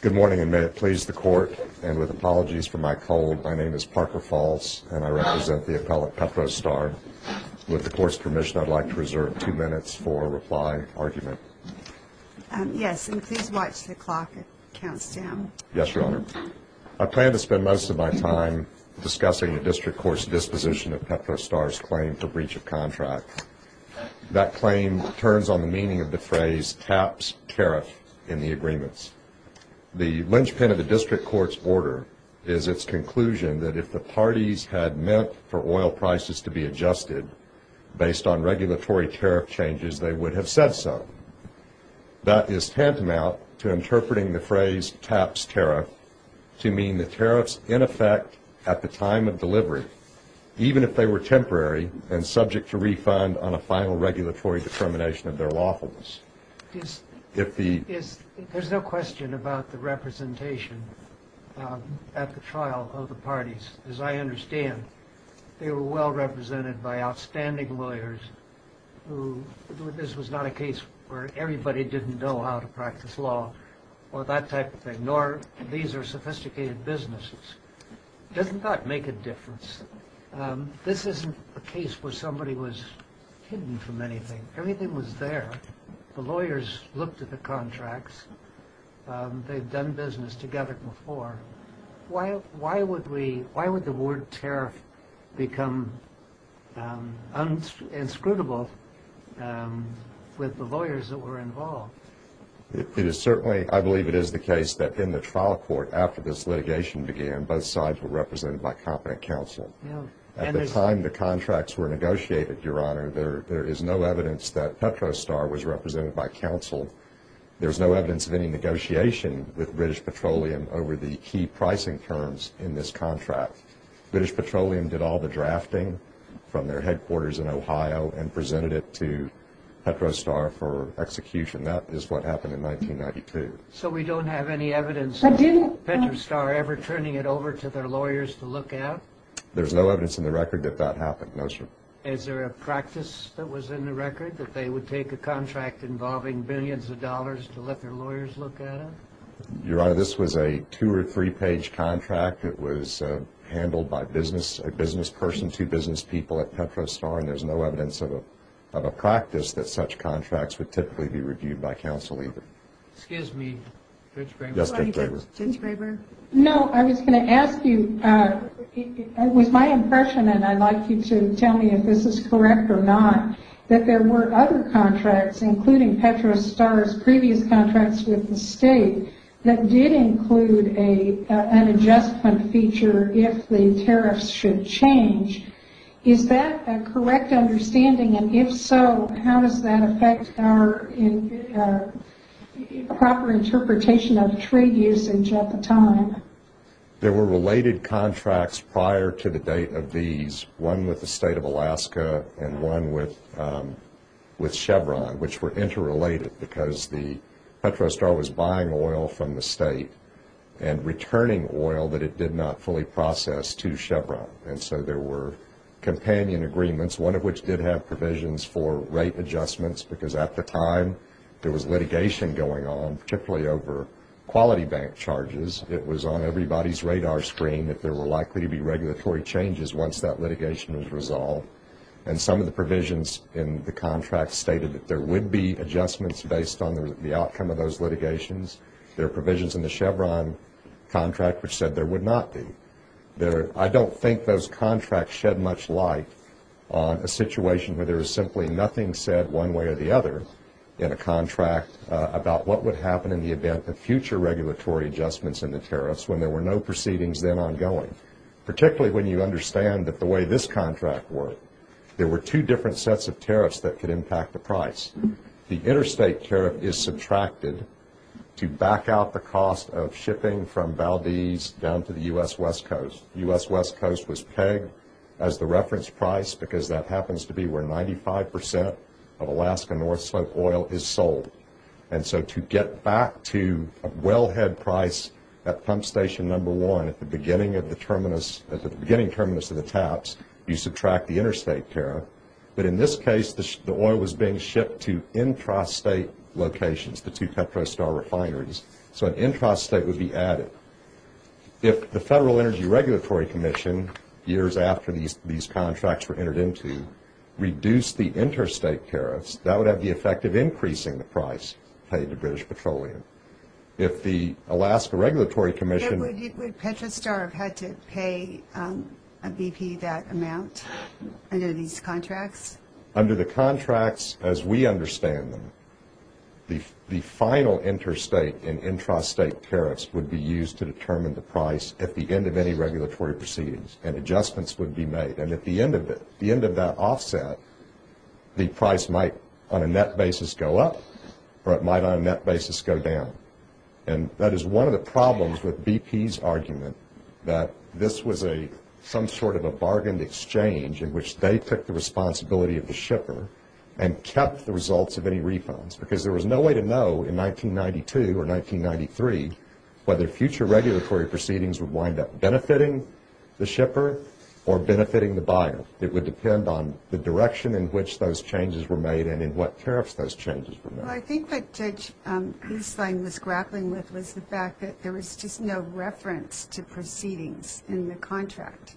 Good morning, and may it please the Court, and with apologies for my cold, my name is Parker Falls, and I represent the appellate Petro Star. With the Court's permission, I'd like to reserve two minutes for a reply argument. Yes, and please watch the clock. It counts down. Yes, Your Honor. I plan to spend most of my time discussing the district court's disposition of Petro Star's claim for breach of contract. That claim turns on the meaning of the phrase, taps tariff, in the agreements. The linchpin of the district court's order is its conclusion that if the parties had meant for oil prices to be adjusted, based on regulatory tariff changes, they would have said so. That is tantamount to interpreting the phrase, taps tariff, to mean the tariffs, in effect, at the time of delivery, even if they were temporary and subject to refund on a final regulatory determination of their lawfulness. There's no question about the representation at the trial of the parties. As I understand, they were well represented by outstanding lawyers. This was not a case where everybody didn't know how to practice law or that type of thing, nor these are sophisticated businesses. Doesn't that make a difference? This isn't a case where somebody was hidden from anything. Everything was there. The lawyers looked at the contracts. They'd done business together before. Why would the word tariff become inscrutable with the lawyers that were involved? It is certainly, I believe it is the case that in the trial court after this litigation began, both sides were represented by competent counsel. At the time the contracts were negotiated, Your Honor, there is no evidence that Petrostar was represented by counsel. There's no evidence of any negotiation with British Petroleum over the key pricing terms in this contract. British Petroleum did all the drafting from their headquarters in Ohio and presented it to Petrostar for execution. That is what happened in 1992. So we don't have any evidence of Petrostar ever turning it over to their lawyers to look at? There's no evidence in the record that that happened, no, sir. Is there a practice that was in the record that they would take a contract involving billions of dollars to let their lawyers look at it? Your Honor, this was a two- or three-page contract. It was handled by a business person, two business people at Petrostar, and there's no evidence of a practice that such contracts would typically be reviewed by counsel either. Excuse me, Judge Graber. Yes, Judge Graber. Judge Graber? No, I was going to ask you, it was my impression, and I'd like you to tell me if this is correct or not, that there were other contracts, including Petrostar's previous contracts with the state, that did include an adjustment feature if the tariffs should change. Is that a correct understanding? And if so, how does that affect our proper interpretation of trade usage at the time? There were related contracts prior to the date of these, one with the state of Alaska and one with Chevron, which were interrelated because Petrostar was buying oil from the state and returning oil that it did not fully process to Chevron. And so there were companion agreements, one of which did have provisions for rate adjustments, because at the time there was litigation going on, particularly over quality bank charges. It was on everybody's radar screen that there were likely to be regulatory changes once that litigation was resolved. And some of the provisions in the contract stated that there would be adjustments based on the outcome of those litigations. There are provisions in the Chevron contract which said there would not be. I don't think those contracts shed much light on a situation where there is simply nothing said one way or the other in a contract about what would happen in the event of future regulatory adjustments in the tariffs when there were no proceedings then ongoing, particularly when you understand that the way this contract worked, there were two different sets of tariffs that could impact the price. The interstate tariff is subtracted to back out the cost of shipping from Valdez down to the U.S. West Coast. The U.S. West Coast was pegged as the reference price because that happens to be where 95 percent of Alaska North Slope oil is sold. And so to get back to a wellhead price at pump station number one at the beginning terminus of the taps, you subtract the interstate tariff. But in this case, the oil was being shipped to intrastate locations, the two Petrostar refineries. So an intrastate would be added. If the Federal Energy Regulatory Commission, years after these contracts were entered into, reduced the interstate tariffs, that would have the effect of increasing the price paid to British Petroleum. If the Alaska Regulatory Commission... Would Petrostar have had to pay BP that amount under these contracts? Under the contracts as we understand them, the final interstate and intrastate tariffs would be used to determine the price at the end of any regulatory proceedings, and adjustments would be made. And at the end of it, the end of that offset, the price might on a net basis go up or it might on a net basis go down. And that is one of the problems with BP's argument that this was some sort of a bargained exchange in which they took the responsibility of the shipper and kept the results of any refunds. Because there was no way to know in 1992 or 1993 whether future regulatory proceedings would wind up benefiting the shipper or benefiting the buyer. It would depend on the direction in which those changes were made and in what tariffs those changes were made. Well, I think what Judge Eastline was grappling with was the fact that there was just no reference to proceedings in the contract.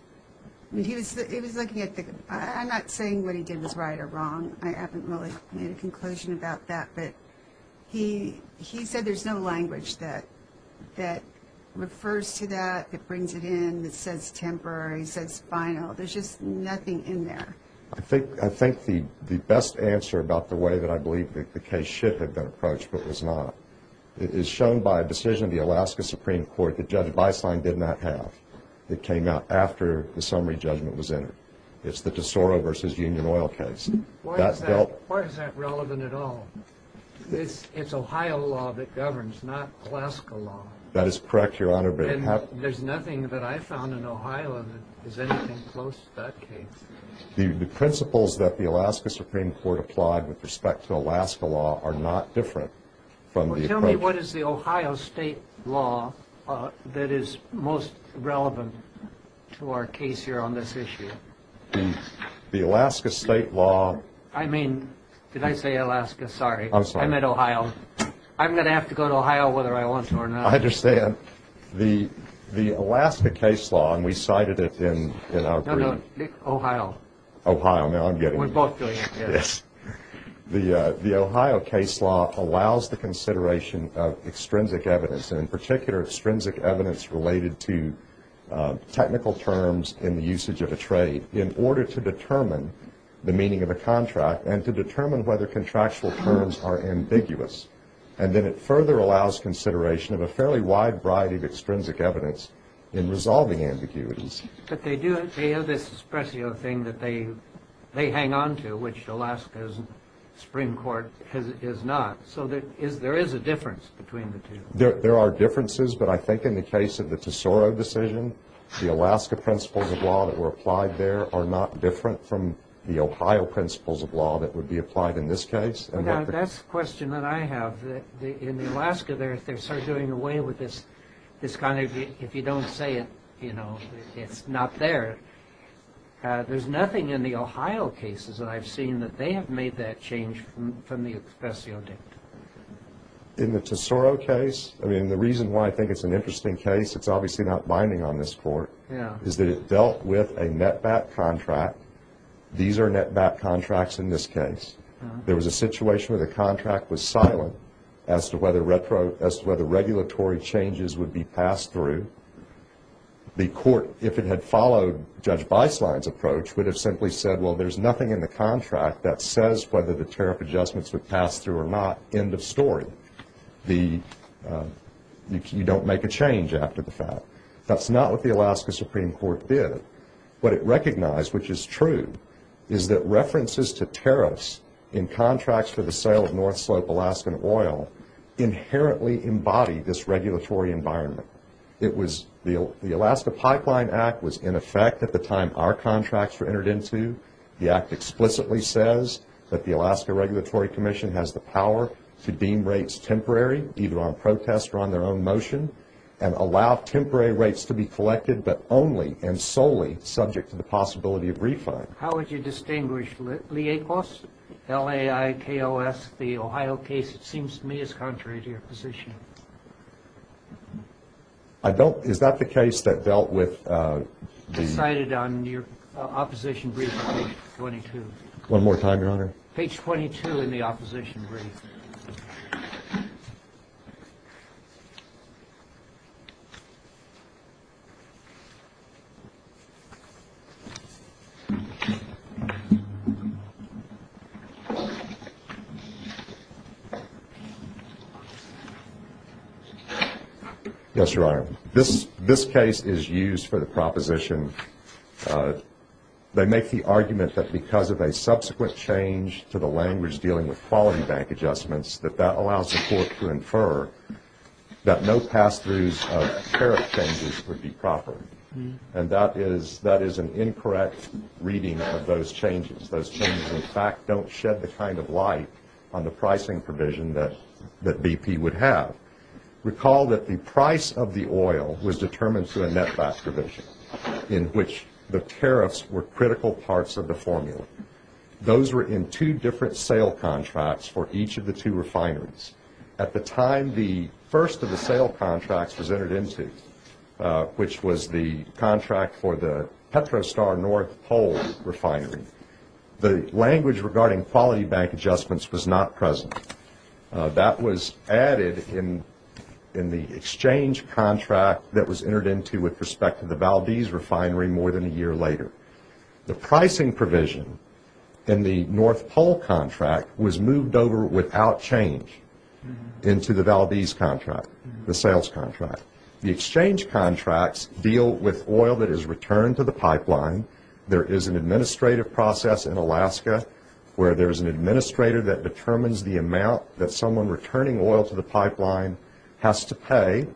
He was looking at the... I'm not saying what he did was right or wrong. I haven't really made a conclusion about that. But he said there's no language that refers to that, that brings it in, that says temporary, says final. There's just nothing in there. I think the best answer about the way that I believe the case should have been approached but was not is shown by a decision of the Alaska Supreme Court that Judge Weisslein did not have. It came out after the summary judgment was entered. It's the Tesoro v. Union Oil case. Why is that relevant at all? It's Ohio law that governs, not Alaska law. That is correct, Your Honor. There's nothing that I found in Ohio that is anything close to that case. The principles that the Alaska Supreme Court applied with respect to Alaska law are not different from the approach... Tell me what is the Ohio state law that is most relevant to our case here on this issue. The Alaska state law... I mean, did I say Alaska? Sorry. I meant Ohio. I'm going to have to go to Ohio whether I want to or not. I understand. The Alaska case law, and we cited it in our brief... No, no. Ohio. Ohio. Now I'm getting it. We're both doing it. Yes. The Ohio case law allows the consideration of extrinsic evidence, and in particular extrinsic evidence related to technical terms in the usage of a trade in order to determine the meaning of a contract and to determine whether contractual terms are ambiguous. And then it further allows consideration of a fairly wide variety of extrinsic evidence in resolving ambiguities. But they do have this espresso thing that they hang on to, which Alaska's Supreme Court is not. So there is a difference between the two. There are differences, but I think in the case of the Tesoro decision, the Alaska principles of law that were applied there are not different from the Ohio principles of law that would be applied in this case. That's the question that I have. In Alaska, they're sort of doing away with this kind of, if you don't say it, you know, it's not there. There's nothing in the Ohio cases that I've seen that they have made that change from the espresso dictum. In the Tesoro case, I mean, the reason why I think it's an interesting case, it's obviously not binding on this Court, is that it dealt with a net-back contract. These are net-back contracts in this case. There was a situation where the contract was silent as to whether regulatory changes would be passed through. The Court, if it had followed Judge Beislein's approach, would have simply said, well, there's nothing in the contract that says whether the tariff adjustments were passed through or not. End of story. You don't make a change after the fact. That's not what the Alaska Supreme Court did. What it recognized, which is true, is that references to tariffs in contracts for the sale of North Slope Alaskan oil inherently embody this regulatory environment. The Alaska Pipeline Act was in effect at the time our contracts were entered into. The Act explicitly says that the Alaska Regulatory Commission has the power to deem rates temporary, either on protest or on their own motion, and allow temporary rates to be collected but only and solely subject to the possibility of refund. How would you distinguish LIEKOS, L-A-I-K-O-S, the Ohio case? It seems to me it's contrary to your position. I don't. Is that the case that dealt with the- Decided on your opposition brief on page 22. One more time, Your Honor. Page 22 in the opposition brief. Yes, Your Honor. This case is used for the proposition. They make the argument that because of a subsequent change to the language dealing with quality bank adjustments, that that allows the court to infer that no pass-throughs of tariff changes would be proper. And that is an incorrect reading of those changes. Those changes, in fact, don't shed the kind of light on the pricing provision that BP would have. Recall that the price of the oil was determined through a net back provision, in which the tariffs were critical parts of the formula. Those were in two different sale contracts for each of the two refineries. At the time the first of the sale contracts was entered into, which was the contract for the Petrostar North Pole refinery, the language regarding quality bank adjustments was not present. That was added in the exchange contract that was entered into with respect to the Valdez refinery more than a year later. The pricing provision in the North Pole contract was moved over without change into the Valdez contract, the sales contract. The exchange contracts deal with oil that is returned to the pipeline. There is an administrative process in Alaska, where there is an administrator that determines the amount that someone returning oil to the pipeline has to pay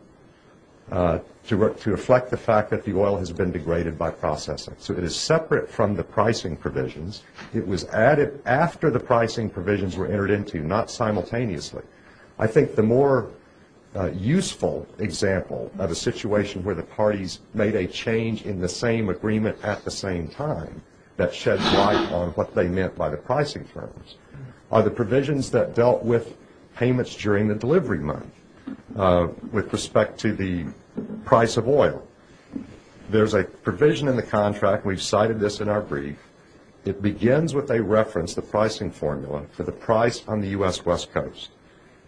to reflect the fact that the oil has been degraded by processing. So it is separate from the pricing provisions. It was added after the pricing provisions were entered into, not simultaneously. I think the more useful example of a situation where the parties made a change in the same agreement at the same time that shed light on what they meant by the pricing terms are the provisions that dealt with payments during the delivery month with respect to the price of oil. There is a provision in the contract, and we've cited this in our brief. It begins with a reference, the pricing formula, for the price on the U.S. West Coast,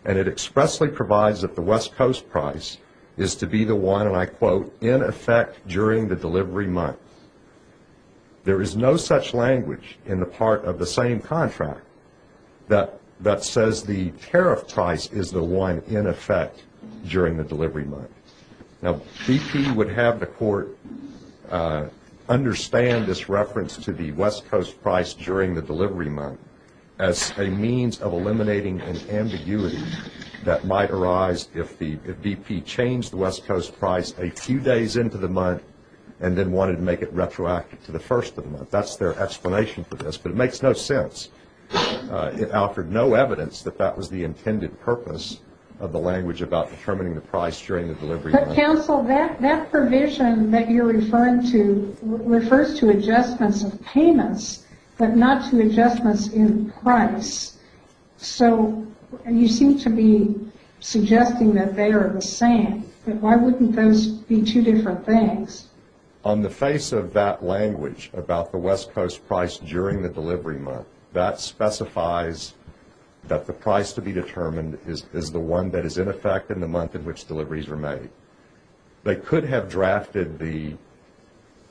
and it expressly provides that the West Coast price is to be the one, and I quote, in effect during the delivery month. There is no such language in the part of the same contract that says the tariff price is the one in effect during the delivery month. Now BP would have the court understand this reference to the West Coast price during the delivery month as a means of eliminating an ambiguity that might arise if BP changed the West Coast price a few days into the month and then wanted to make it retroactive to the first of the month. That's their explanation for this, but it makes no sense. It offered no evidence that that was the intended purpose of the language about determining the price during the delivery month. But, counsel, that provision that you're referring to refers to adjustments of payments, but not to adjustments in price. So you seem to be suggesting that they are the same, but why wouldn't those be two different things? On the face of that language about the West Coast price during the delivery month, that specifies that the price to be determined is the one that is in effect in the month in which deliveries are made. They could have drafted the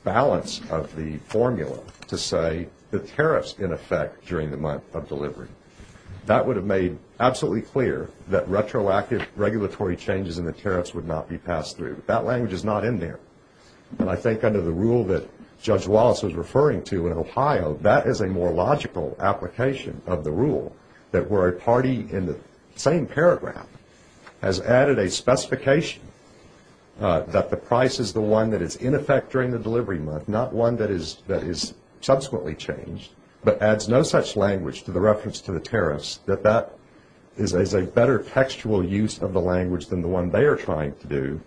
balance of the formula to say the tariffs in effect during the month of delivery. That would have made absolutely clear that retroactive regulatory changes in the tariffs would not be passed through. That language is not in there. And I think under the rule that Judge Wallace was referring to in Ohio, that is a more logical application of the rule, that where a party in the same paragraph has added a specification that the price is the one that is in effect during the delivery month, not one that is subsequently changed, but adds no such language to the reference to the tariffs, that that is a better textual use of the language than the one they are trying to do,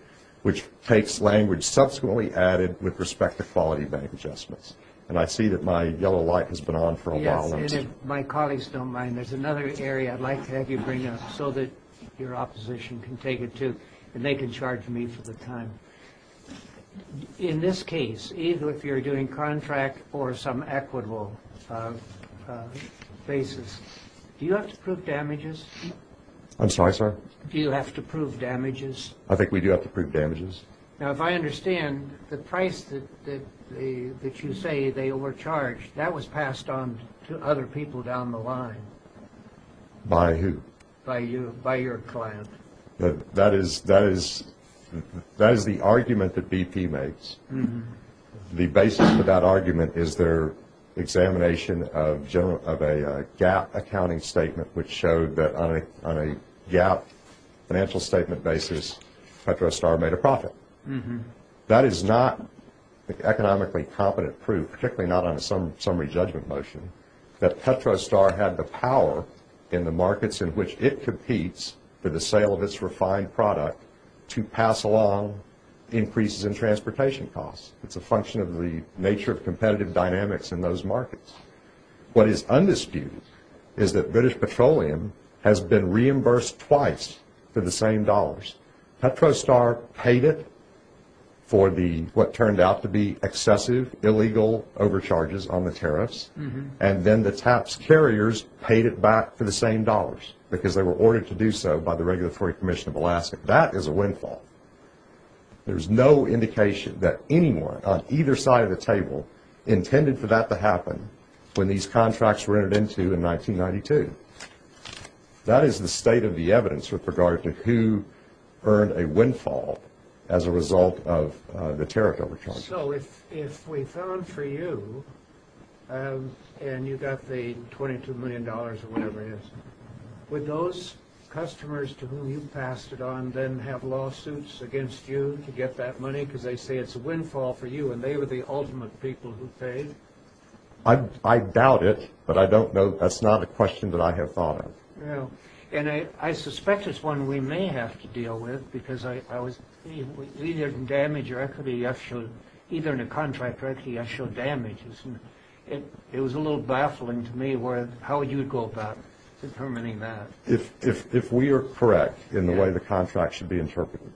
which takes language subsequently added with respect to quality bank adjustments. And I see that my yellow light has been on for a while now. Yes, and if my colleagues don't mind, there's another area I'd like to have you bring up so that your opposition can take it too, and they can charge me for the time. In this case, even if you're doing contract or some equitable basis, do you have to prove damages? I'm sorry, sir? Do you have to prove damages? I think we do have to prove damages. Now, if I understand, the price that you say they overcharged, that was passed on to other people down the line. By who? By your client. That is the argument that BP makes. The basis for that argument is their examination of a GAAP accounting statement, which showed that on a GAAP financial statement basis, Petrostar made a profit. That is not economically competent proof, particularly not on a summary judgment motion, that Petrostar had the power in the markets in which it competes for the sale of its refined product to pass along increases in transportation costs. It's a function of the nature of competitive dynamics in those markets. What is undisputed is that British Petroleum has been reimbursed twice for the same dollars. Petrostar paid it for what turned out to be excessive, illegal overcharges on the tariffs, and then the TAPS carriers paid it back for the same dollars because they were ordered to do so by the Regulatory Commission of Alaska. That is a windfall. There's no indication that anyone on either side of the table intended for that to happen when these contracts were entered into in 1992. That is the state of the evidence with regard to who earned a windfall as a result of the tariff overcharges. So if we fell in for you and you got the $22 million or whatever it is, would those customers to whom you passed it on then have lawsuits against you to get that money because they say it's a windfall for you and they were the ultimate people who paid? I doubt it, but I don't know. That's not a question that I have thought of. No. And I suspect it's one we may have to deal with because I was either in damage or equity, either in a contract or equity, I showed damage. It was a little baffling to me how you would go about determining that. If we are correct in the way the contract should be interpreted,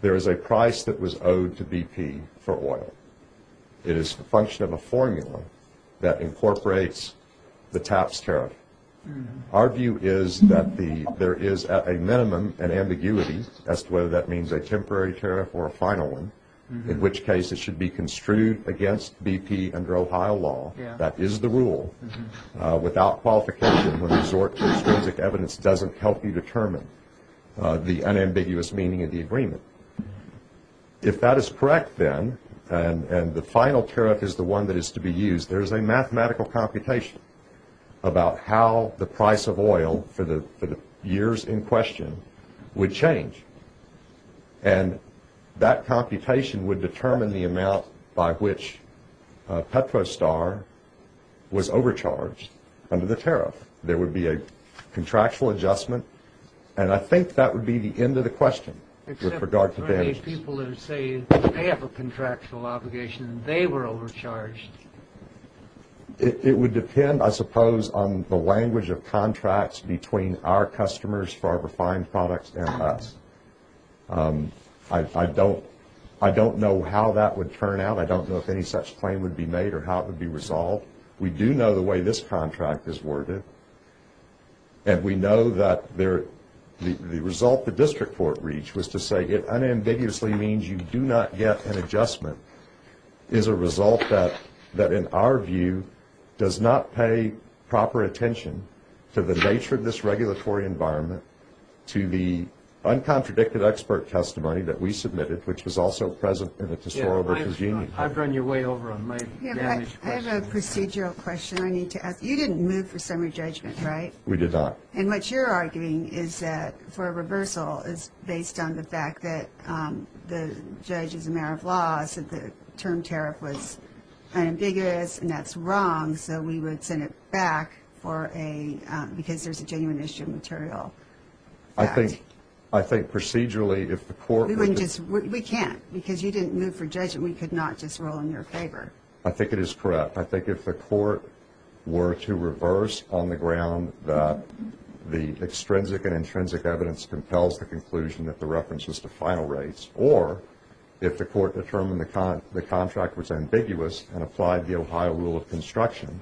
there is a price that was owed to BP for oil. It is the function of a formula that incorporates the TAPS tariff. Our view is that there is at a minimum an ambiguity as to whether that means a temporary tariff or a final one, in which case it should be construed against BP under Ohio law. That is the rule. Without qualification, when we resort to extrinsic evidence, it doesn't help you determine the unambiguous meaning of the agreement. If that is correct, then, and the final tariff is the one that is to be used, there is a mathematical computation about how the price of oil for the years in question would change. And that computation would determine the amount by which Petrostar was overcharged under the tariff. There would be a contractual adjustment. And I think that would be the end of the question with regard to benefits. Except for many people who say they have a contractual obligation and they were overcharged. It would depend, I suppose, on the language of contracts between our customers for our refined products and us. I don't know how that would turn out. I don't know if any such claim would be made or how it would be resolved. We do know the way this contract is worded. And we know that the result the district court reached was to say it unambiguously means you do not get an adjustment. It is a result that, in our view, does not pay proper attention to the nature of this regulatory environment, to the uncontradicted expert testimony that we submitted, which is also present in the Tesoro v. Union. I've run your way over on my damaged question. I have a procedural question I need to ask. You didn't move for summary judgment, right? We did not. And what you're arguing is that for a reversal is based on the fact that the judge is a matter of law, said the term tariff was unambiguous, and that's wrong, so we would send it back because there's a genuine issue of material fact. I think procedurally if the court was to – We can't because you didn't move for judgment. We could not just rule in your favor. I think it is correct. I think if the court were to reverse on the ground that the extrinsic and intrinsic evidence compels the conclusion that the reference is to final rates, or if the court determined the contract was ambiguous and applied the Ohio rule of construction,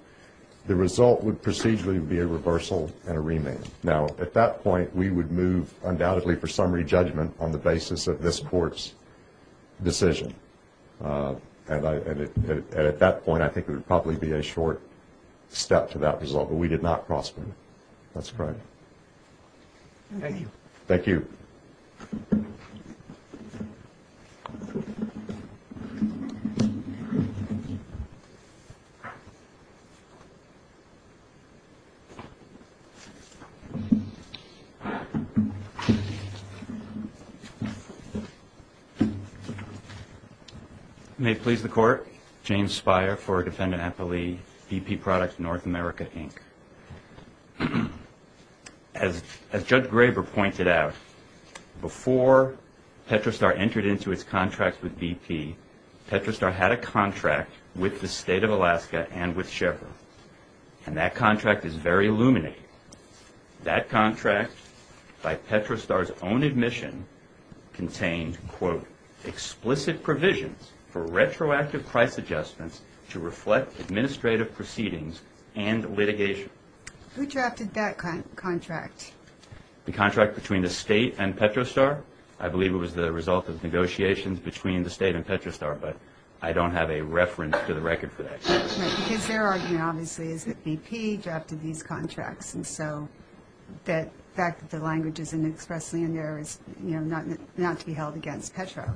the result would procedurally be a reversal and a remand. Now, at that point, we would move undoubtedly for summary judgment on the basis of this court's decision. And at that point, I think it would probably be a short step to that result, but we did not cross-move. That's correct. Thank you. Thank you. May it please the Court. James Speier for Defendant Appellee, BP Products, North America, Inc. As Judge Graber pointed out, before Petrostar entered into its contract with BP, Petrostar had a contract with the state of Alaska and with Sheppard, and that contract is very illuminating. That contract, by Petrostar's own admission, contained, quote, explicit provisions for retroactive price adjustments to reflect administrative proceedings and litigation. Who drafted that contract? The contract between the state and Petrostar. I believe it was the result of negotiations between the state and Petrostar, but I don't have a reference to the record for that. His argument, obviously, is that BP drafted these contracts, and so the fact that the language is expressly in there is not to be held against Petro.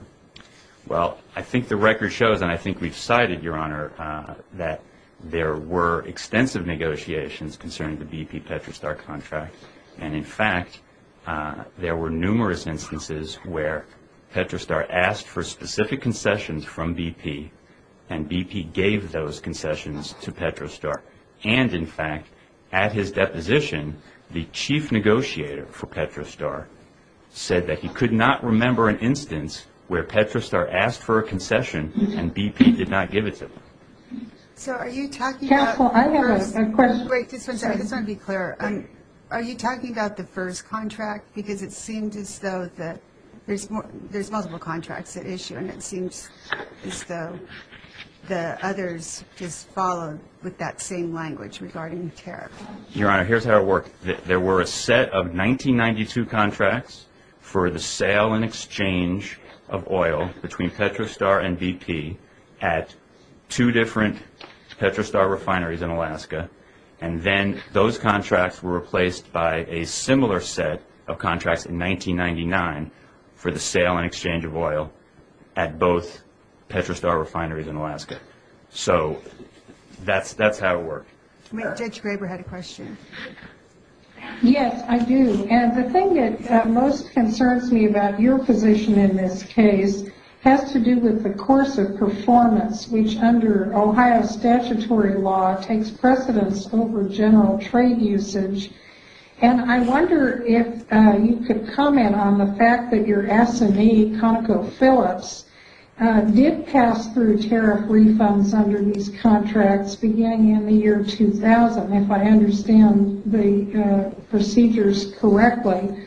Well, I think the record shows, and I think we've cited, Your Honor, that there were extensive negotiations concerning the BP-Petrostar contract, and, in fact, there were numerous instances where Petrostar asked for specific concessions from BP, and BP gave those concessions to Petrostar, and, in fact, at his deposition, the chief negotiator for Petrostar said that he could not remember an instance where Petrostar asked for a concession and BP did not give it to them. So are you talking about the first? Careful, I have a question. Wait, just one second. I just want to be clear. Are you talking about the first contract? Because it seemed as though there's multiple contracts at issue, and it seems as though the others just followed with that same language regarding tariff. Your Honor, here's how it worked. There were a set of 1992 contracts for the sale and exchange of oil between Petrostar and BP at two different Petrostar refineries in Alaska, and then those contracts were replaced by a similar set of contracts in 1999 for the sale and exchange of oil at both Petrostar refineries in Alaska. So that's how it worked. Judge Graber had a question. Yes, I do, and the thing that most concerns me about your position in this case has to do with the course of performance, which under Ohio statutory law takes precedence over general trade usage. And I wonder if you could comment on the fact that your S&E, ConocoPhillips, did pass through tariff refunds under these contracts beginning in the year 2000, if I understand the procedures correctly.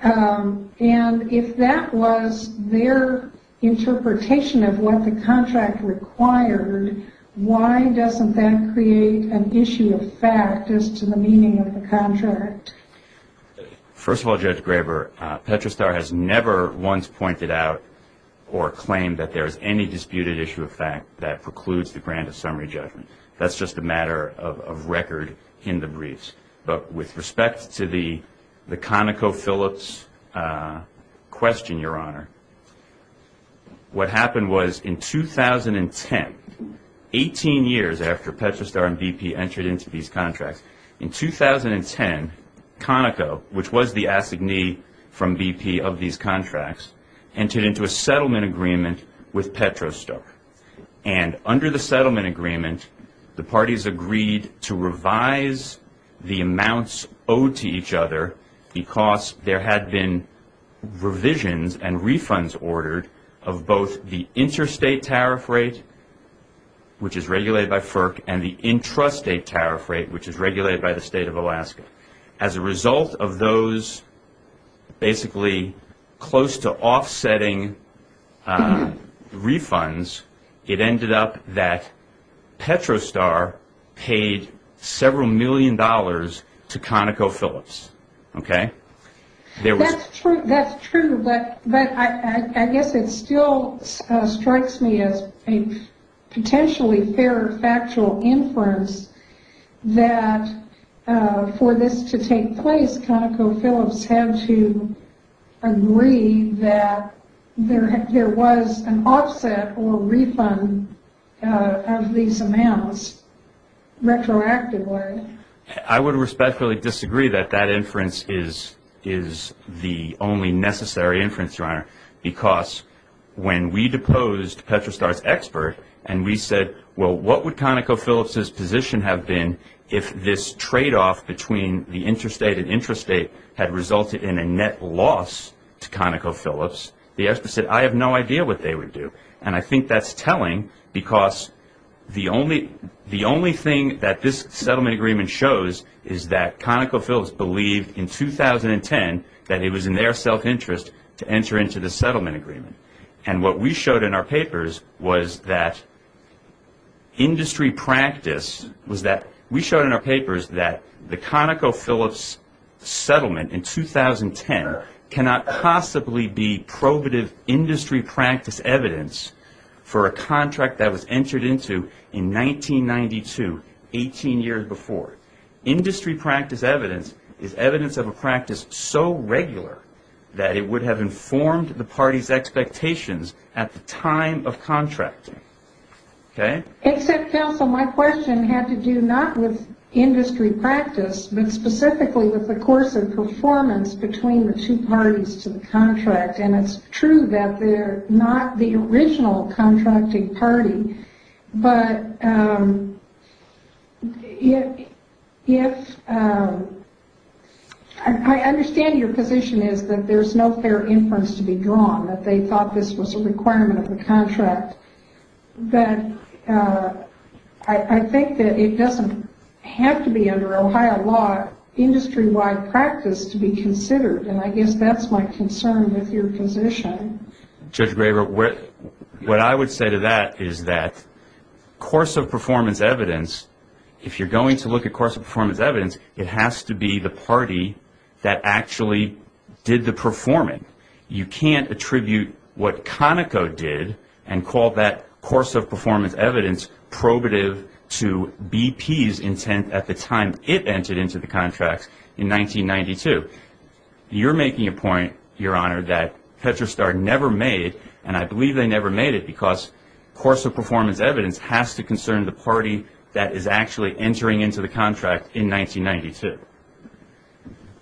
And if that was their interpretation of what the contract required, why doesn't that create an issue of fact as to the meaning of the contract? First of all, Judge Graber, Petrostar has never once pointed out or claimed that there is any disputed issue of fact that precludes the grant of summary judgment. That's just a matter of record in the briefs. But with respect to the ConocoPhillips question, Your Honor, what happened was in 2010, 18 years after Petrostar and BP entered into these contracts, in 2010, Conoco, which was the assignee from BP of these contracts, entered into a settlement agreement with Petrostar. And under the settlement agreement, the parties agreed to revise the amounts owed to each other because there had been revisions and refunds ordered of both the interstate tariff rate, which is regulated by FERC, and the intrastate tariff rate, which is regulated by the State of Alaska. As a result of those basically close to offsetting refunds, it ended up that Petrostar paid several million dollars to ConocoPhillips. That's true, but I guess it still strikes me as a potentially fair factual inference that for this to take place, ConocoPhillips had to agree that there was an offset or refund of these amounts retroactively. I would respectfully disagree that that inference is the only necessary inference, Your Honor, because when we deposed Petrostar's expert and we said, well, what would ConocoPhillips' position have been if this tradeoff between the interstate and intrastate had resulted in a net loss to ConocoPhillips, the expert said, I have no idea what they would do. And I think that's telling because the only thing that this settlement agreement shows is that ConocoPhillips believed in 2010 that it was in their self-interest to enter into the settlement agreement. And what we showed in our papers was that the ConocoPhillips settlement in 2010 cannot possibly be probative industry practice evidence for a contract that was entered into in 1992, 18 years before. Industry practice evidence is evidence of a practice so regular that it would have informed the party's expectations at the time of contracting. Okay? Except, Phil, so my question had to do not with industry practice, but specifically with the course of performance between the two parties to the contract. And it's true that they're not the original contracting party, but I understand your position is that there's no fair inference to be drawn, that they thought this was a requirement of the contract. But I think that it doesn't have to be under Ohio law industry-wide practice to be considered, and I guess that's my concern with your position. Judge Graver, what I would say to that is that course of performance evidence, if you're going to look at course of performance evidence, it has to be the party that actually did the performing. You can't attribute what Conoco did and call that course of performance evidence probative to BP's intent at the time it entered into the contract in 1992. You're making a point, Your Honor, that Tetrastar never made it, and I believe they never made it because course of performance evidence has to concern the party that is actually entering into the contract in 1992.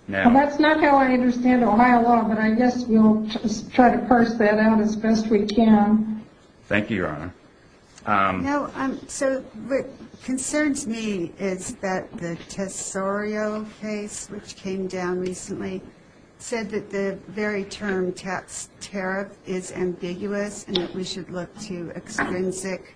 That's not how I understand Ohio law, but I guess we'll try to parse that out as best we can. Thank you, Your Honor. No, so what concerns me is that the Tesorio case, which came down recently, said that the very term tax tariff is ambiguous and that we should look to extrinsic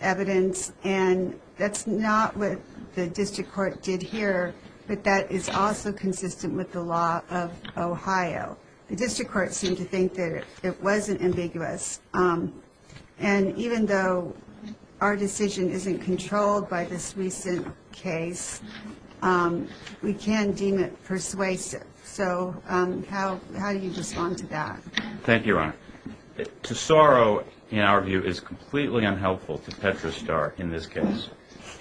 evidence, and that's not what the district court did here, but that is also consistent with the law of Ohio. The district court seemed to think that it wasn't ambiguous, and even though our decision isn't controlled by this recent case, we can deem it persuasive. So how do you respond to that? Thank you, Your Honor. Tesorio, in our view, is completely unhelpful to Tetrastar in this case,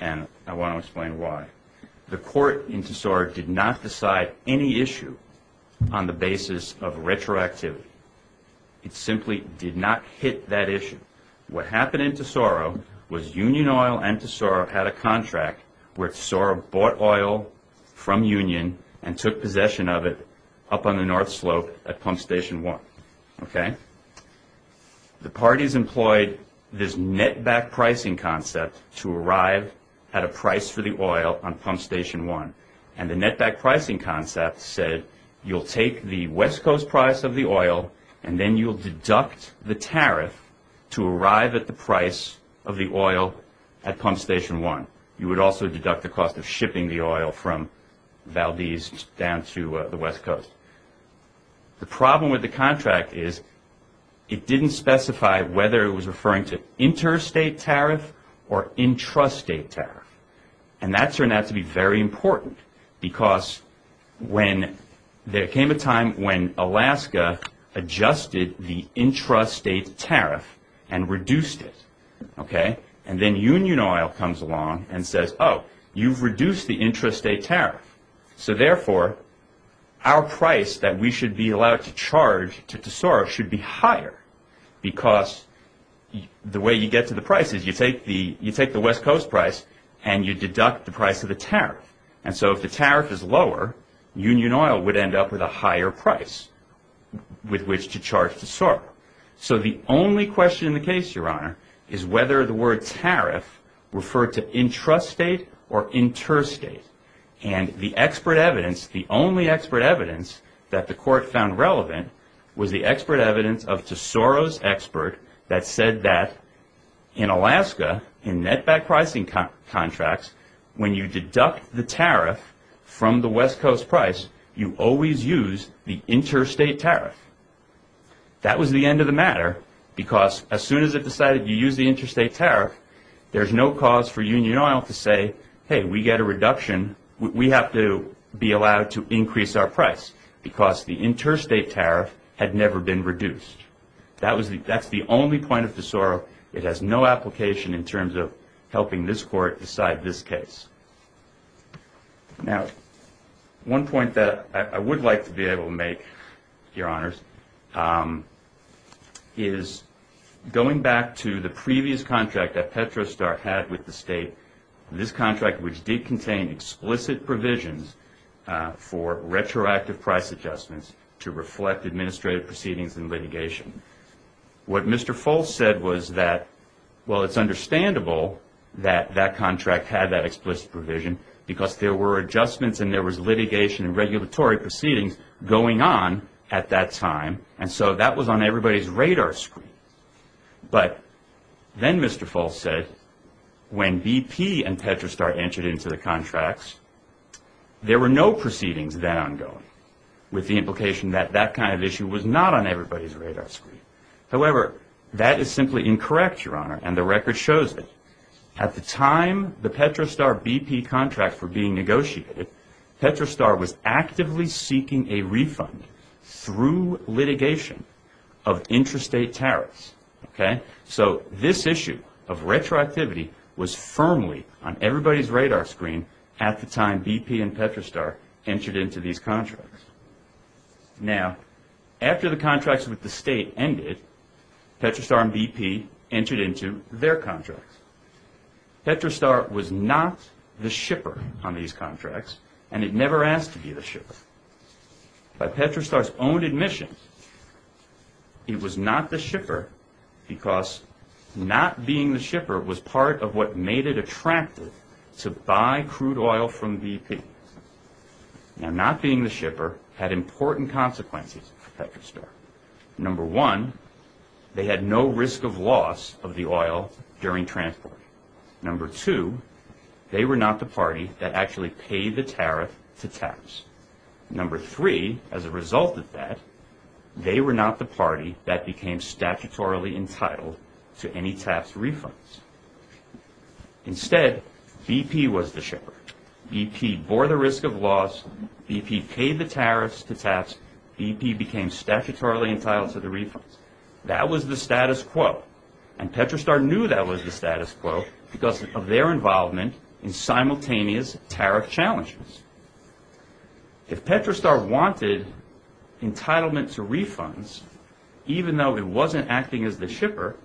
and I want to explain why. The court in Tesorio did not decide any issue on the basis of retroactivity. It simply did not hit that issue. What happened in Tesorio was Union Oil and Tesorio had a contract where Tesorio bought oil from Union and took possession of it up on the north slope at Pump Station 1, okay? The parties employed this net back pricing concept to arrive at a price for the oil on Pump Station 1, and the net back pricing concept said you'll take the west coast price of the oil and then you'll deduct the tariff to arrive at the price of the oil at Pump Station 1. You would also deduct the cost of shipping the oil from Valdez down to the west coast. The problem with the contract is it didn't specify whether it was referring to interstate tariff or intrastate tariff, and that turned out to be very important because there came a time when Alaska adjusted the intrastate tariff and reduced it, okay? And then Union Oil comes along and says, oh, you've reduced the intrastate tariff. So, therefore, our price that we should be allowed to charge to Tesorio should be higher because the way you get to the price is you take the west coast price and you deduct the price of the tariff. And so if the tariff is lower, Union Oil would end up with a higher price with which to charge Tesorio. So the only question in the case, Your Honor, is whether the word tariff referred to intrastate or interstate. And the expert evidence, the only expert evidence that the court found relevant, was the expert evidence of Tesorio's expert that said that in Alaska, in netback pricing contracts, when you deduct the tariff from the west coast price, you always use the interstate tariff. That was the end of the matter because as soon as it decided you use the interstate tariff, there's no cause for Union Oil to say, hey, we get a reduction. We have to be allowed to increase our price because the interstate tariff had never been reduced. That's the only point of Tesorio. It has no application in terms of helping this court decide this case. Now, one point that I would like to be able to make, Your Honors, is going back to the previous contract that Petrostar had with the state, this contract which did contain explicit provisions for retroactive price adjustments to reflect administrative proceedings and litigation. What Mr. Foltz said was that, well, it's understandable that that contract had that explicit provision because there were adjustments and there was litigation and regulatory proceedings going on at that time. And so that was on everybody's radar screen. But then Mr. Foltz said when BP and Petrostar entered into the contracts, there were no proceedings then ongoing with the implication that that kind of issue was not on everybody's radar screen. However, that is simply incorrect, Your Honor, and the record shows it. At the time the Petrostar BP contract were being negotiated, Petrostar was actively seeking a refund through litigation of interstate tariffs. So this issue of retroactivity was firmly on everybody's radar screen at the time BP and Petrostar entered into these contracts. Now, after the contracts with the state ended, Petrostar and BP entered into their contracts. Petrostar was not the shipper on these contracts and it never asked to be the shipper. By Petrostar's own admission, it was not the shipper because not being the shipper was part of what made it attractive to buy crude oil from BP. Now, not being the shipper had important consequences for Petrostar. Number one, they had no risk of loss of the oil during transport. Number two, they were not the party that actually paid the tariff to TAPS. Number three, as a result of that, they were not the party that became statutorily entitled to any TAPS refunds. Instead, BP was the shipper. BP bore the risk of loss, BP paid the tariffs to TAPS, BP became statutorily entitled to the refunds. That was the status quo. And Petrostar knew that was the status quo because of their involvement in simultaneous tariff challenges. If Petrostar wanted entitlement to refunds, even though it wasn't acting as the shipper,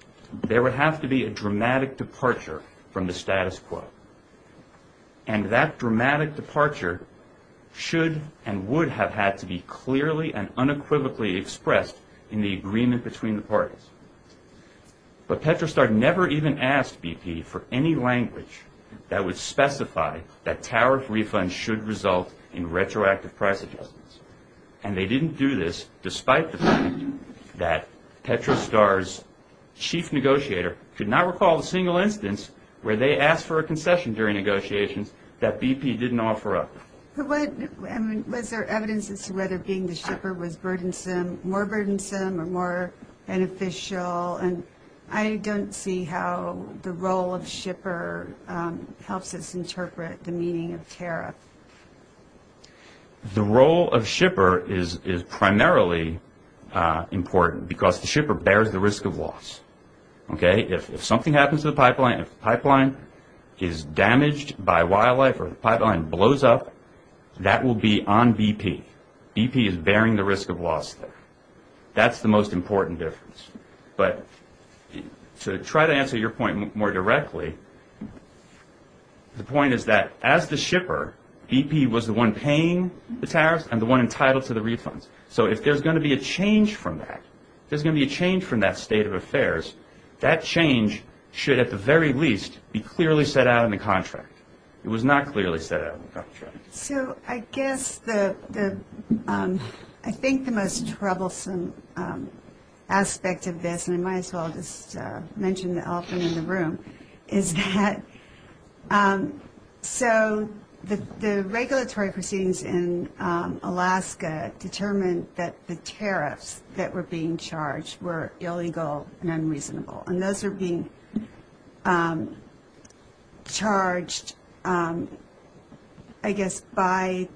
there would have to be a dramatic departure from the status quo. And that dramatic departure should and would have had to be clearly and unequivocally expressed in the agreement between the parties. But Petrostar never even asked BP for any language that would specify that tariff refunds should result in retroactive price adjustments. And they didn't do this despite the fact that Petrostar's chief negotiator could not recall a single instance where they asked for a concession during negotiations that BP didn't offer up. Was there evidence as to whether being the shipper was more burdensome or more beneficial? And I don't see how the role of shipper helps us interpret the meaning of tariff. The role of shipper is primarily important because the shipper bears the risk of loss. If something happens to the pipeline, if the pipeline is damaged by wildlife or the pipeline blows up, that will be on BP. BP is bearing the risk of loss there. That's the most important difference. But to try to answer your point more directly, the point is that as the shipper, BP was the one paying the tariffs and the one entitled to the refunds. So if there's going to be a change from that, if there's going to be a change from that state of affairs, that change should at the very least be clearly set out in the contract. It was not clearly set out in the contract. So I guess I think the most troublesome aspect of this, and I might as well just mention the elephant in the room, is that so the regulatory proceedings in Alaska determined that the tariffs that were being charged were illegal and unreasonable. And those are being charged, I guess, by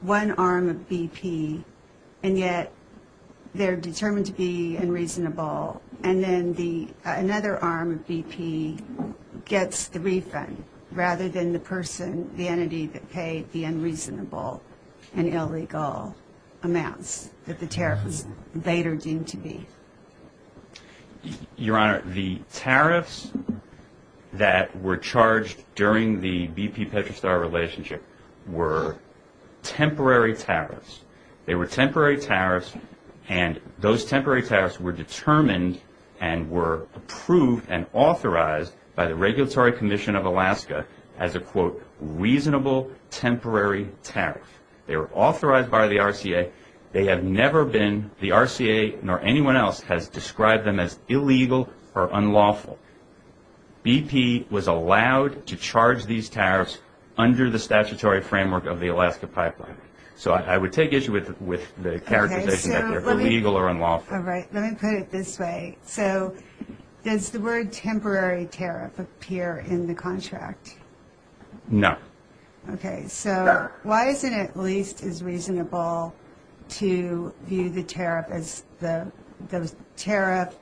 one arm of BP, and yet they're determined to be unreasonable. And then another arm of BP gets the refund rather than the person, the entity that paid the unreasonable and illegal amounts that the tariffs later deemed to be. Your Honor, the tariffs that were charged during the BP-Petrostar relationship were temporary tariffs. They were temporary tariffs, and those temporary tariffs were determined and were approved and authorized by the Regulatory Commission of Alaska as a, quote, reasonable temporary tariff. They were authorized by the RCA. They have never been, the RCA nor anyone else has described them as illegal or unlawful. BP was allowed to charge these tariffs under the statutory framework of the Alaska pipeline. So I would take issue with the characterization that they're illegal or unlawful. All right, let me put it this way. So does the word temporary tariff appear in the contract? No. Okay, so why isn't it at least as reasonable to view the tariff as the, those tariff,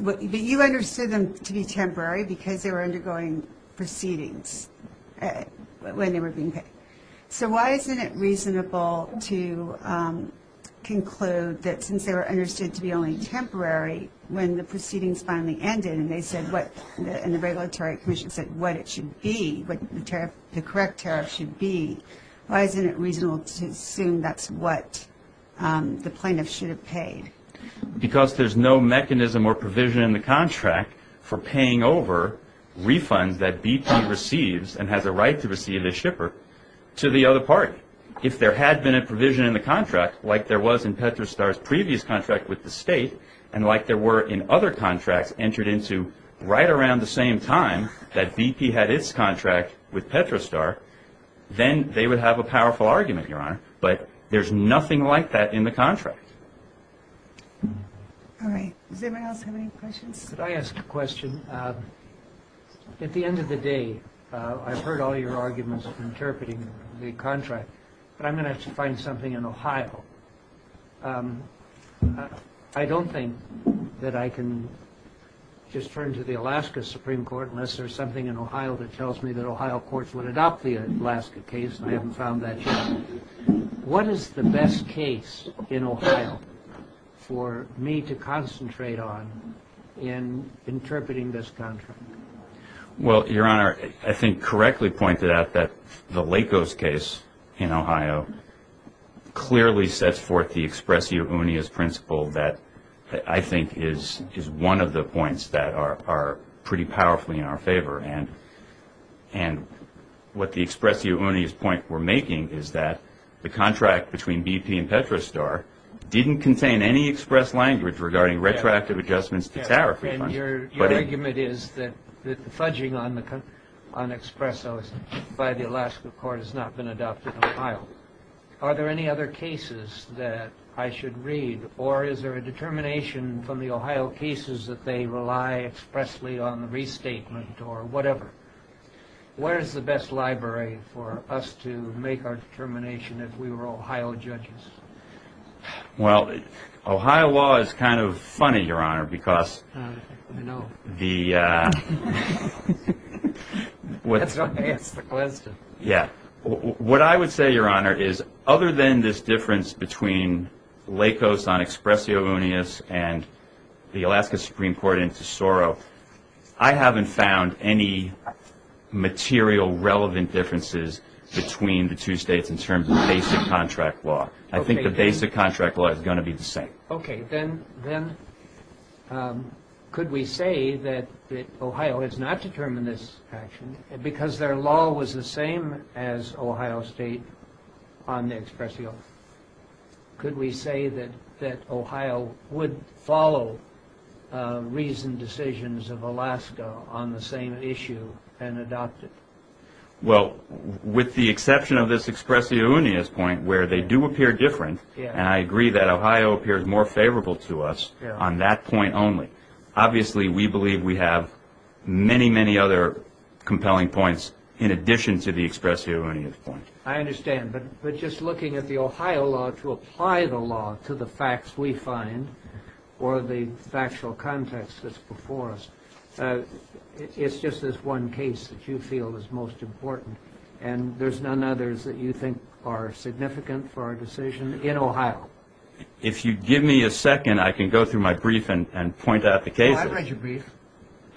but you understood them to be temporary because they were undergoing proceedings when they were being paid. So why isn't it reasonable to conclude that since they were understood to be only temporary when the proceedings finally ended and they said what, and the Regulatory Commission said what it should be, what the correct tariff should be, why isn't it reasonable to assume that's what the plaintiff should have paid? Because there's no mechanism or provision in the contract for paying over refunds that BP receives and has a right to receive as shipper to the other party. If there had been a provision in the contract like there was in Petrostar's previous contract with the state and like there were in other contracts entered into right around the same time that BP had its contract with Petrostar, then they would have a powerful argument, Your Honor. But there's nothing like that in the contract. All right. Does anyone else have any questions? Could I ask a question? At the end of the day, I've heard all your arguments interpreting the contract, but I'm going to have to find something in Ohio. I don't think that I can just turn to the Alaska Supreme Court unless there's something in Ohio that tells me that Ohio courts would adopt the Alaska case, and I haven't found that yet. What is the best case in Ohio for me to concentrate on in interpreting this contract? Well, Your Honor, I think correctly pointed out that the Lakos case in Ohio clearly sets forth the expressio unias principle that I think is one of the points that are pretty powerfully in our favor. And what the expressio unias point we're making is that the contract between BP and Petrostar didn't contain any express language regarding retroactive adjustments to tariff refunds. And your argument is that the fudging on expressos by the Alaska court has not been adopted in Ohio. Are there any other cases that I should read, or is there a determination from the Ohio cases that they rely expressly on the restatement or whatever? Where is the best library for us to make our determination if we were Ohio judges? Well, Ohio law is kind of funny, Your Honor, because the – Yeah. What I would say, Your Honor, is other than this difference between Lakos on expressio unias and the Alaska Supreme Court in Tesoro, I haven't found any material relevant differences between the two states in terms of basic contract law. I think the basic contract law is going to be the same. Okay. Then could we say that Ohio has not determined this action because their law was the same as Ohio State on the expressio? Could we say that Ohio would follow reasoned decisions of Alaska on the same issue and adopt it? Well, with the exception of this expressio unias point where they do appear different, and I agree that Ohio appears more favorable to us on that point only, obviously we believe we have many, many other compelling points in addition to the expressio unias point. I understand. But just looking at the Ohio law to apply the law to the facts we find or the factual context that's before us, it's just this one case that you feel is most If you give me a second, I can go through my brief and point out the cases. I've read your brief.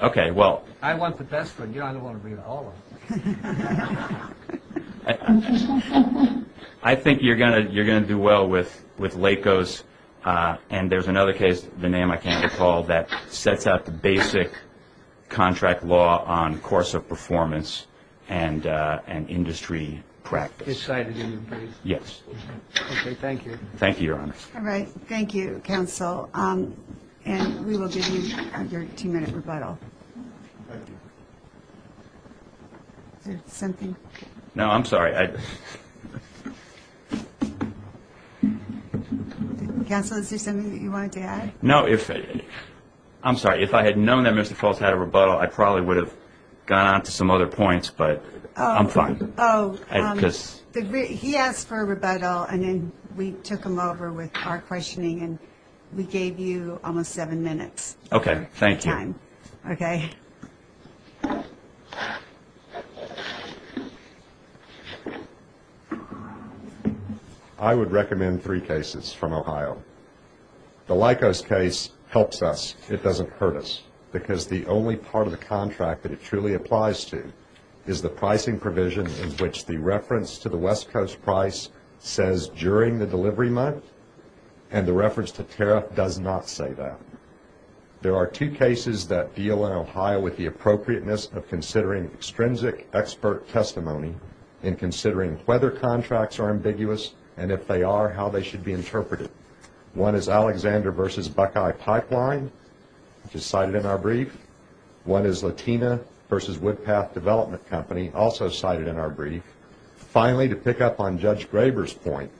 Okay, well. I want the best one. You know, I don't want to read all of them. I think you're going to do well with Lakos. And there's another case, the name I can't recall, that sets out the basic contract law on course of performance and industry practice. This side of your brief? Yes. Okay. Thank you. Thank you, Your Honor. All right. Thank you, Counsel. And we will give you your two-minute rebuttal. Thank you. Is there something? No, I'm sorry. Counsel, is there something that you wanted to add? No. I'm sorry. If I had known that Mr. Fultz had a rebuttal, I probably would have gone on to some other points, but I'm fine. Oh, he asked for a rebuttal, and then we took him over with our questioning, and we gave you almost seven minutes. Okay, thank you. Okay. I would recommend three cases from Ohio. The Lakos case helps us. It doesn't hurt us, because the only part of the contract that it truly applies to is the pricing provision in which the reference to the West Coast price says during the delivery month, and the reference to tariff does not say that. There are two cases that deal in Ohio with the appropriateness of considering extrinsic expert testimony in considering whether contracts are ambiguous, and if they are, how they should be interpreted. One is Alexander v. Buckeye Pipeline, which is cited in our brief. One is Latina v. Woodpath Development Company, also cited in our brief. Finally, to pick up on Judge Graber's point,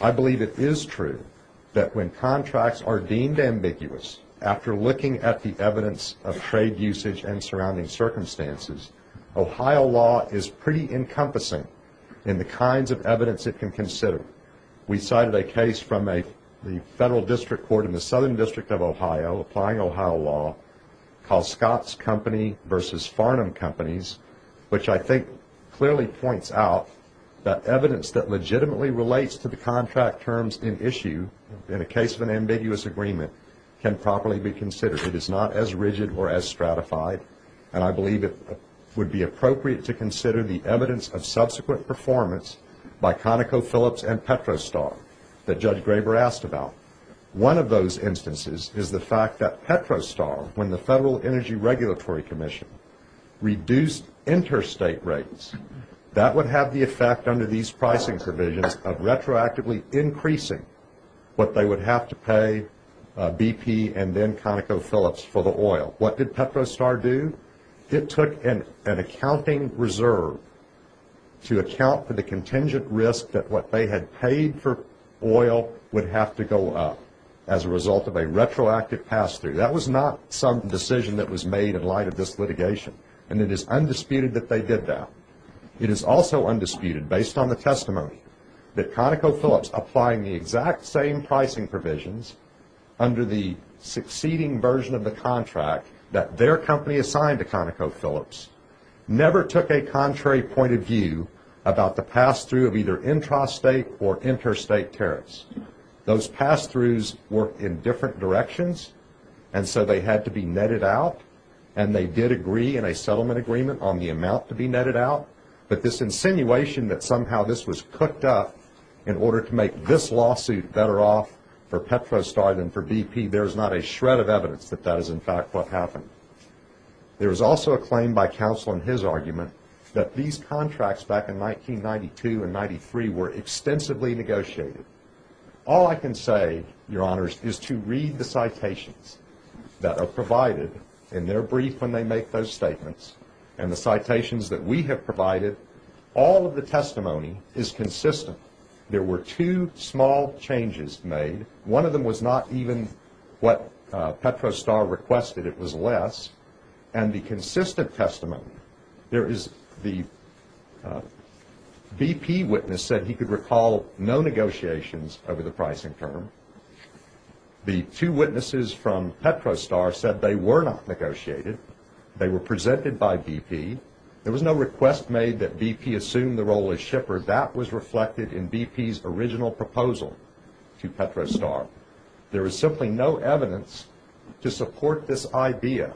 I believe it is true that when contracts are deemed ambiguous, after looking at the evidence of trade usage and surrounding circumstances, Ohio law is pretty encompassing in the kinds of evidence it can consider. We cited a case from the Federal District Court in the Southern District of Ohio, applying Ohio law, called Scott's Company v. Farnham Companies, which I think clearly points out that evidence that legitimately relates to the contract terms in issue in a case of an ambiguous agreement can properly be considered. It is not as rigid or as stratified, and I believe it would be appropriate to consider the evidence of subsequent performance by ConocoPhillips and PetroStar that Judge Graber asked about. One of those instances is the fact that PetroStar, when the Federal Energy Regulatory Commission reduced interstate rates, that would have the effect under these pricing provisions of retroactively increasing what they would have to pay BP and then ConocoPhillips for the oil. What did PetroStar do? It took an accounting reserve to account for the contingent risk that what they had paid for oil would have to go up as a result of a retroactive pass-through. That was not some decision that was made in light of this litigation, and it is undisputed that they did that. It is also undisputed, based on the testimony, that ConocoPhillips, applying the exact same pricing provisions under the succeeding version of the contract that their company assigned to ConocoPhillips, never took a contrary point of view about the pass-through of either intrastate or interstate tariffs. Those pass-throughs were in different directions, and so they had to be netted out, and they did agree in a settlement agreement on the amount to be netted out, but this insinuation that somehow this was cooked up in order to make this lawsuit better off for PetroStar than for BP, there is not a shred of evidence that that is, in fact, what happened. There is also a claim by counsel in his argument that these contracts back in 1992 and 1993 were extensively negotiated. All I can say, Your Honors, is to read the citations that are provided in their brief when they make those statements, and the citations that we have provided, all of the testimony is consistent. There were two small changes made. One of them was not even what PetroStar requested. It was less, and the consistent testimony, there is the BP witness said he could recall no negotiations over the pricing term. The two witnesses from PetroStar said they were not negotiated. They were presented by BP. There was no request made that BP assume the role as shipper. However, that was reflected in BP's original proposal to PetroStar. There was simply no evidence to support this idea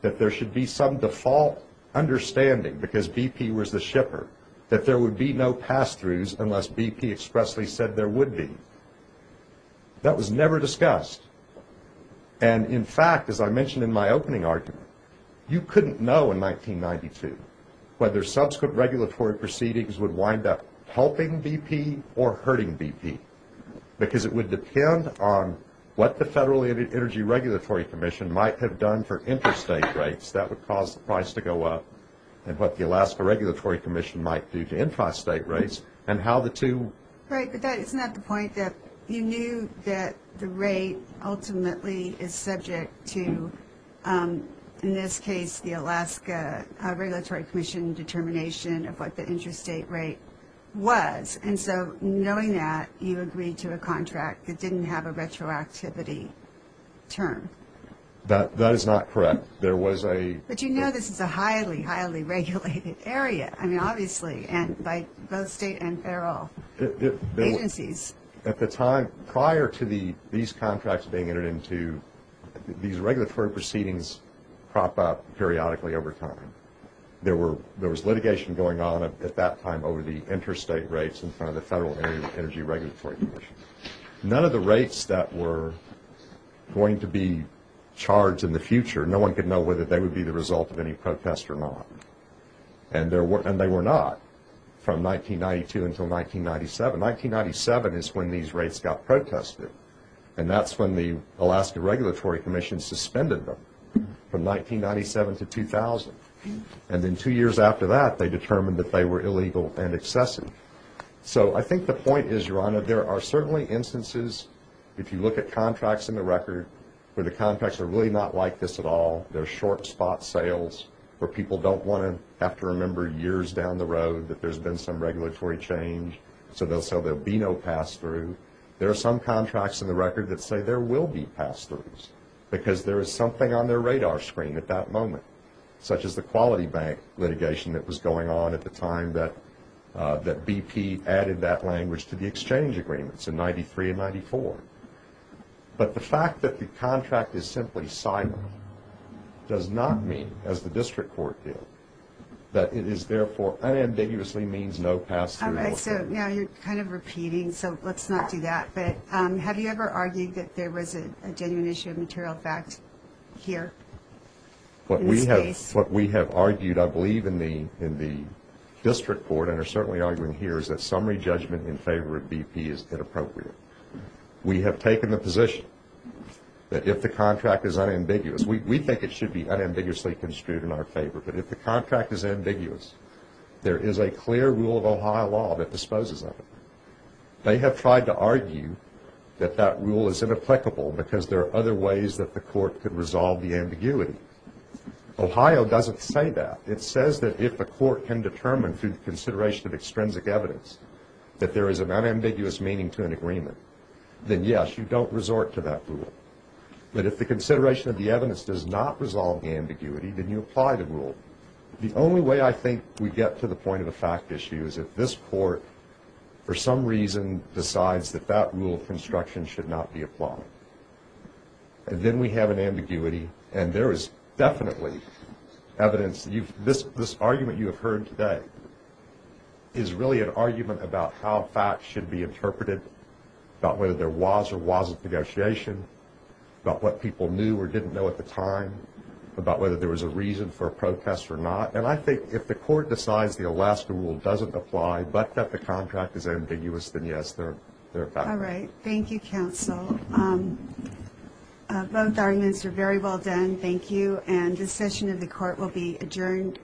that there should be some default understanding, because BP was the shipper, that there would be no pass-throughs unless BP expressly said there would be. That was never discussed, and, in fact, as I mentioned in my opening argument, you couldn't know in 1992 whether subsequent regulatory proceedings would wind up helping BP or hurting BP, because it would depend on what the Federal Energy Regulatory Commission might have done for interstate rates that would cause the price to go up and what the Alaska Regulatory Commission might do to intrastate rates and how the two. Right, but isn't that the point that you knew that the rate ultimately is subject to, in this case, the Alaska Regulatory Commission determination of what the intrastate rate was, and so knowing that, you agreed to a contract that didn't have a retroactivity term. That is not correct. But you know this is a highly, highly regulated area, I mean, obviously, by both state and federal agencies. At the time prior to these contracts being entered into, these regulatory proceedings crop up periodically over time. There was litigation going on at that time over the intrastate rates in front of the Federal Energy Regulatory Commission. None of the rates that were going to be charged in the future, no one could know whether they would be the result of any protest or not, and they were not from 1992 until 1997. 1997 is when these rates got protested, and that's when the Alaska Regulatory Commission suspended them from 1997 to 2000. And then two years after that, they determined that they were illegal and excessive. So I think the point is, Your Honor, there are certainly instances, if you look at contracts in the record, where the contracts are really not like this at all, they're short spot sales, where people don't want to have to remember years down the road that there's been some regulatory change so there'll be no pass-through. There are some contracts in the record that say there will be pass-throughs because there is something on their radar screen at that moment, such as the Quality Bank litigation that was going on at the time that BP added that language to the exchange agreements in 1993 and 1994. But the fact that the contract is simply silent does not mean, as the district court did, that it is therefore unambiguously means no pass-through. All right. So now you're kind of repeating, so let's not do that. But have you ever argued that there was a genuine issue of material fact here in this case? What we have argued, I believe, in the district court, and are certainly arguing here, is that summary judgment in favor of BP is inappropriate. We have taken the position that if the contract is unambiguous, we think it should be unambiguously construed in our favor, but if the contract is ambiguous, there is a clear rule of Ohio law that disposes of it. They have tried to argue that that rule is inapplicable because there are other ways that the court could resolve the ambiguity. Ohio doesn't say that. It says that if the court can determine through the consideration of extrinsic evidence that there is an unambiguous meaning to an agreement, then yes, you don't resort to that rule. But if the consideration of the evidence does not resolve the ambiguity, then you apply the rule. The only way I think we get to the point of a fact issue is if this court for some reason decides that that rule of construction should not be applied. And then we have an ambiguity, and there is definitely evidence. This argument you have heard today is really an argument about how facts should be interpreted, about whether there was or wasn't negotiation, about what people knew or didn't know at the time, about whether there was a reason for a protest or not. And I think if the court decides the Alaska rule doesn't apply but that the contract is ambiguous, then yes, they're back. All right. Thank you, counsel. Both arguments are very well done. Thank you. And this session of the court will be adjourned.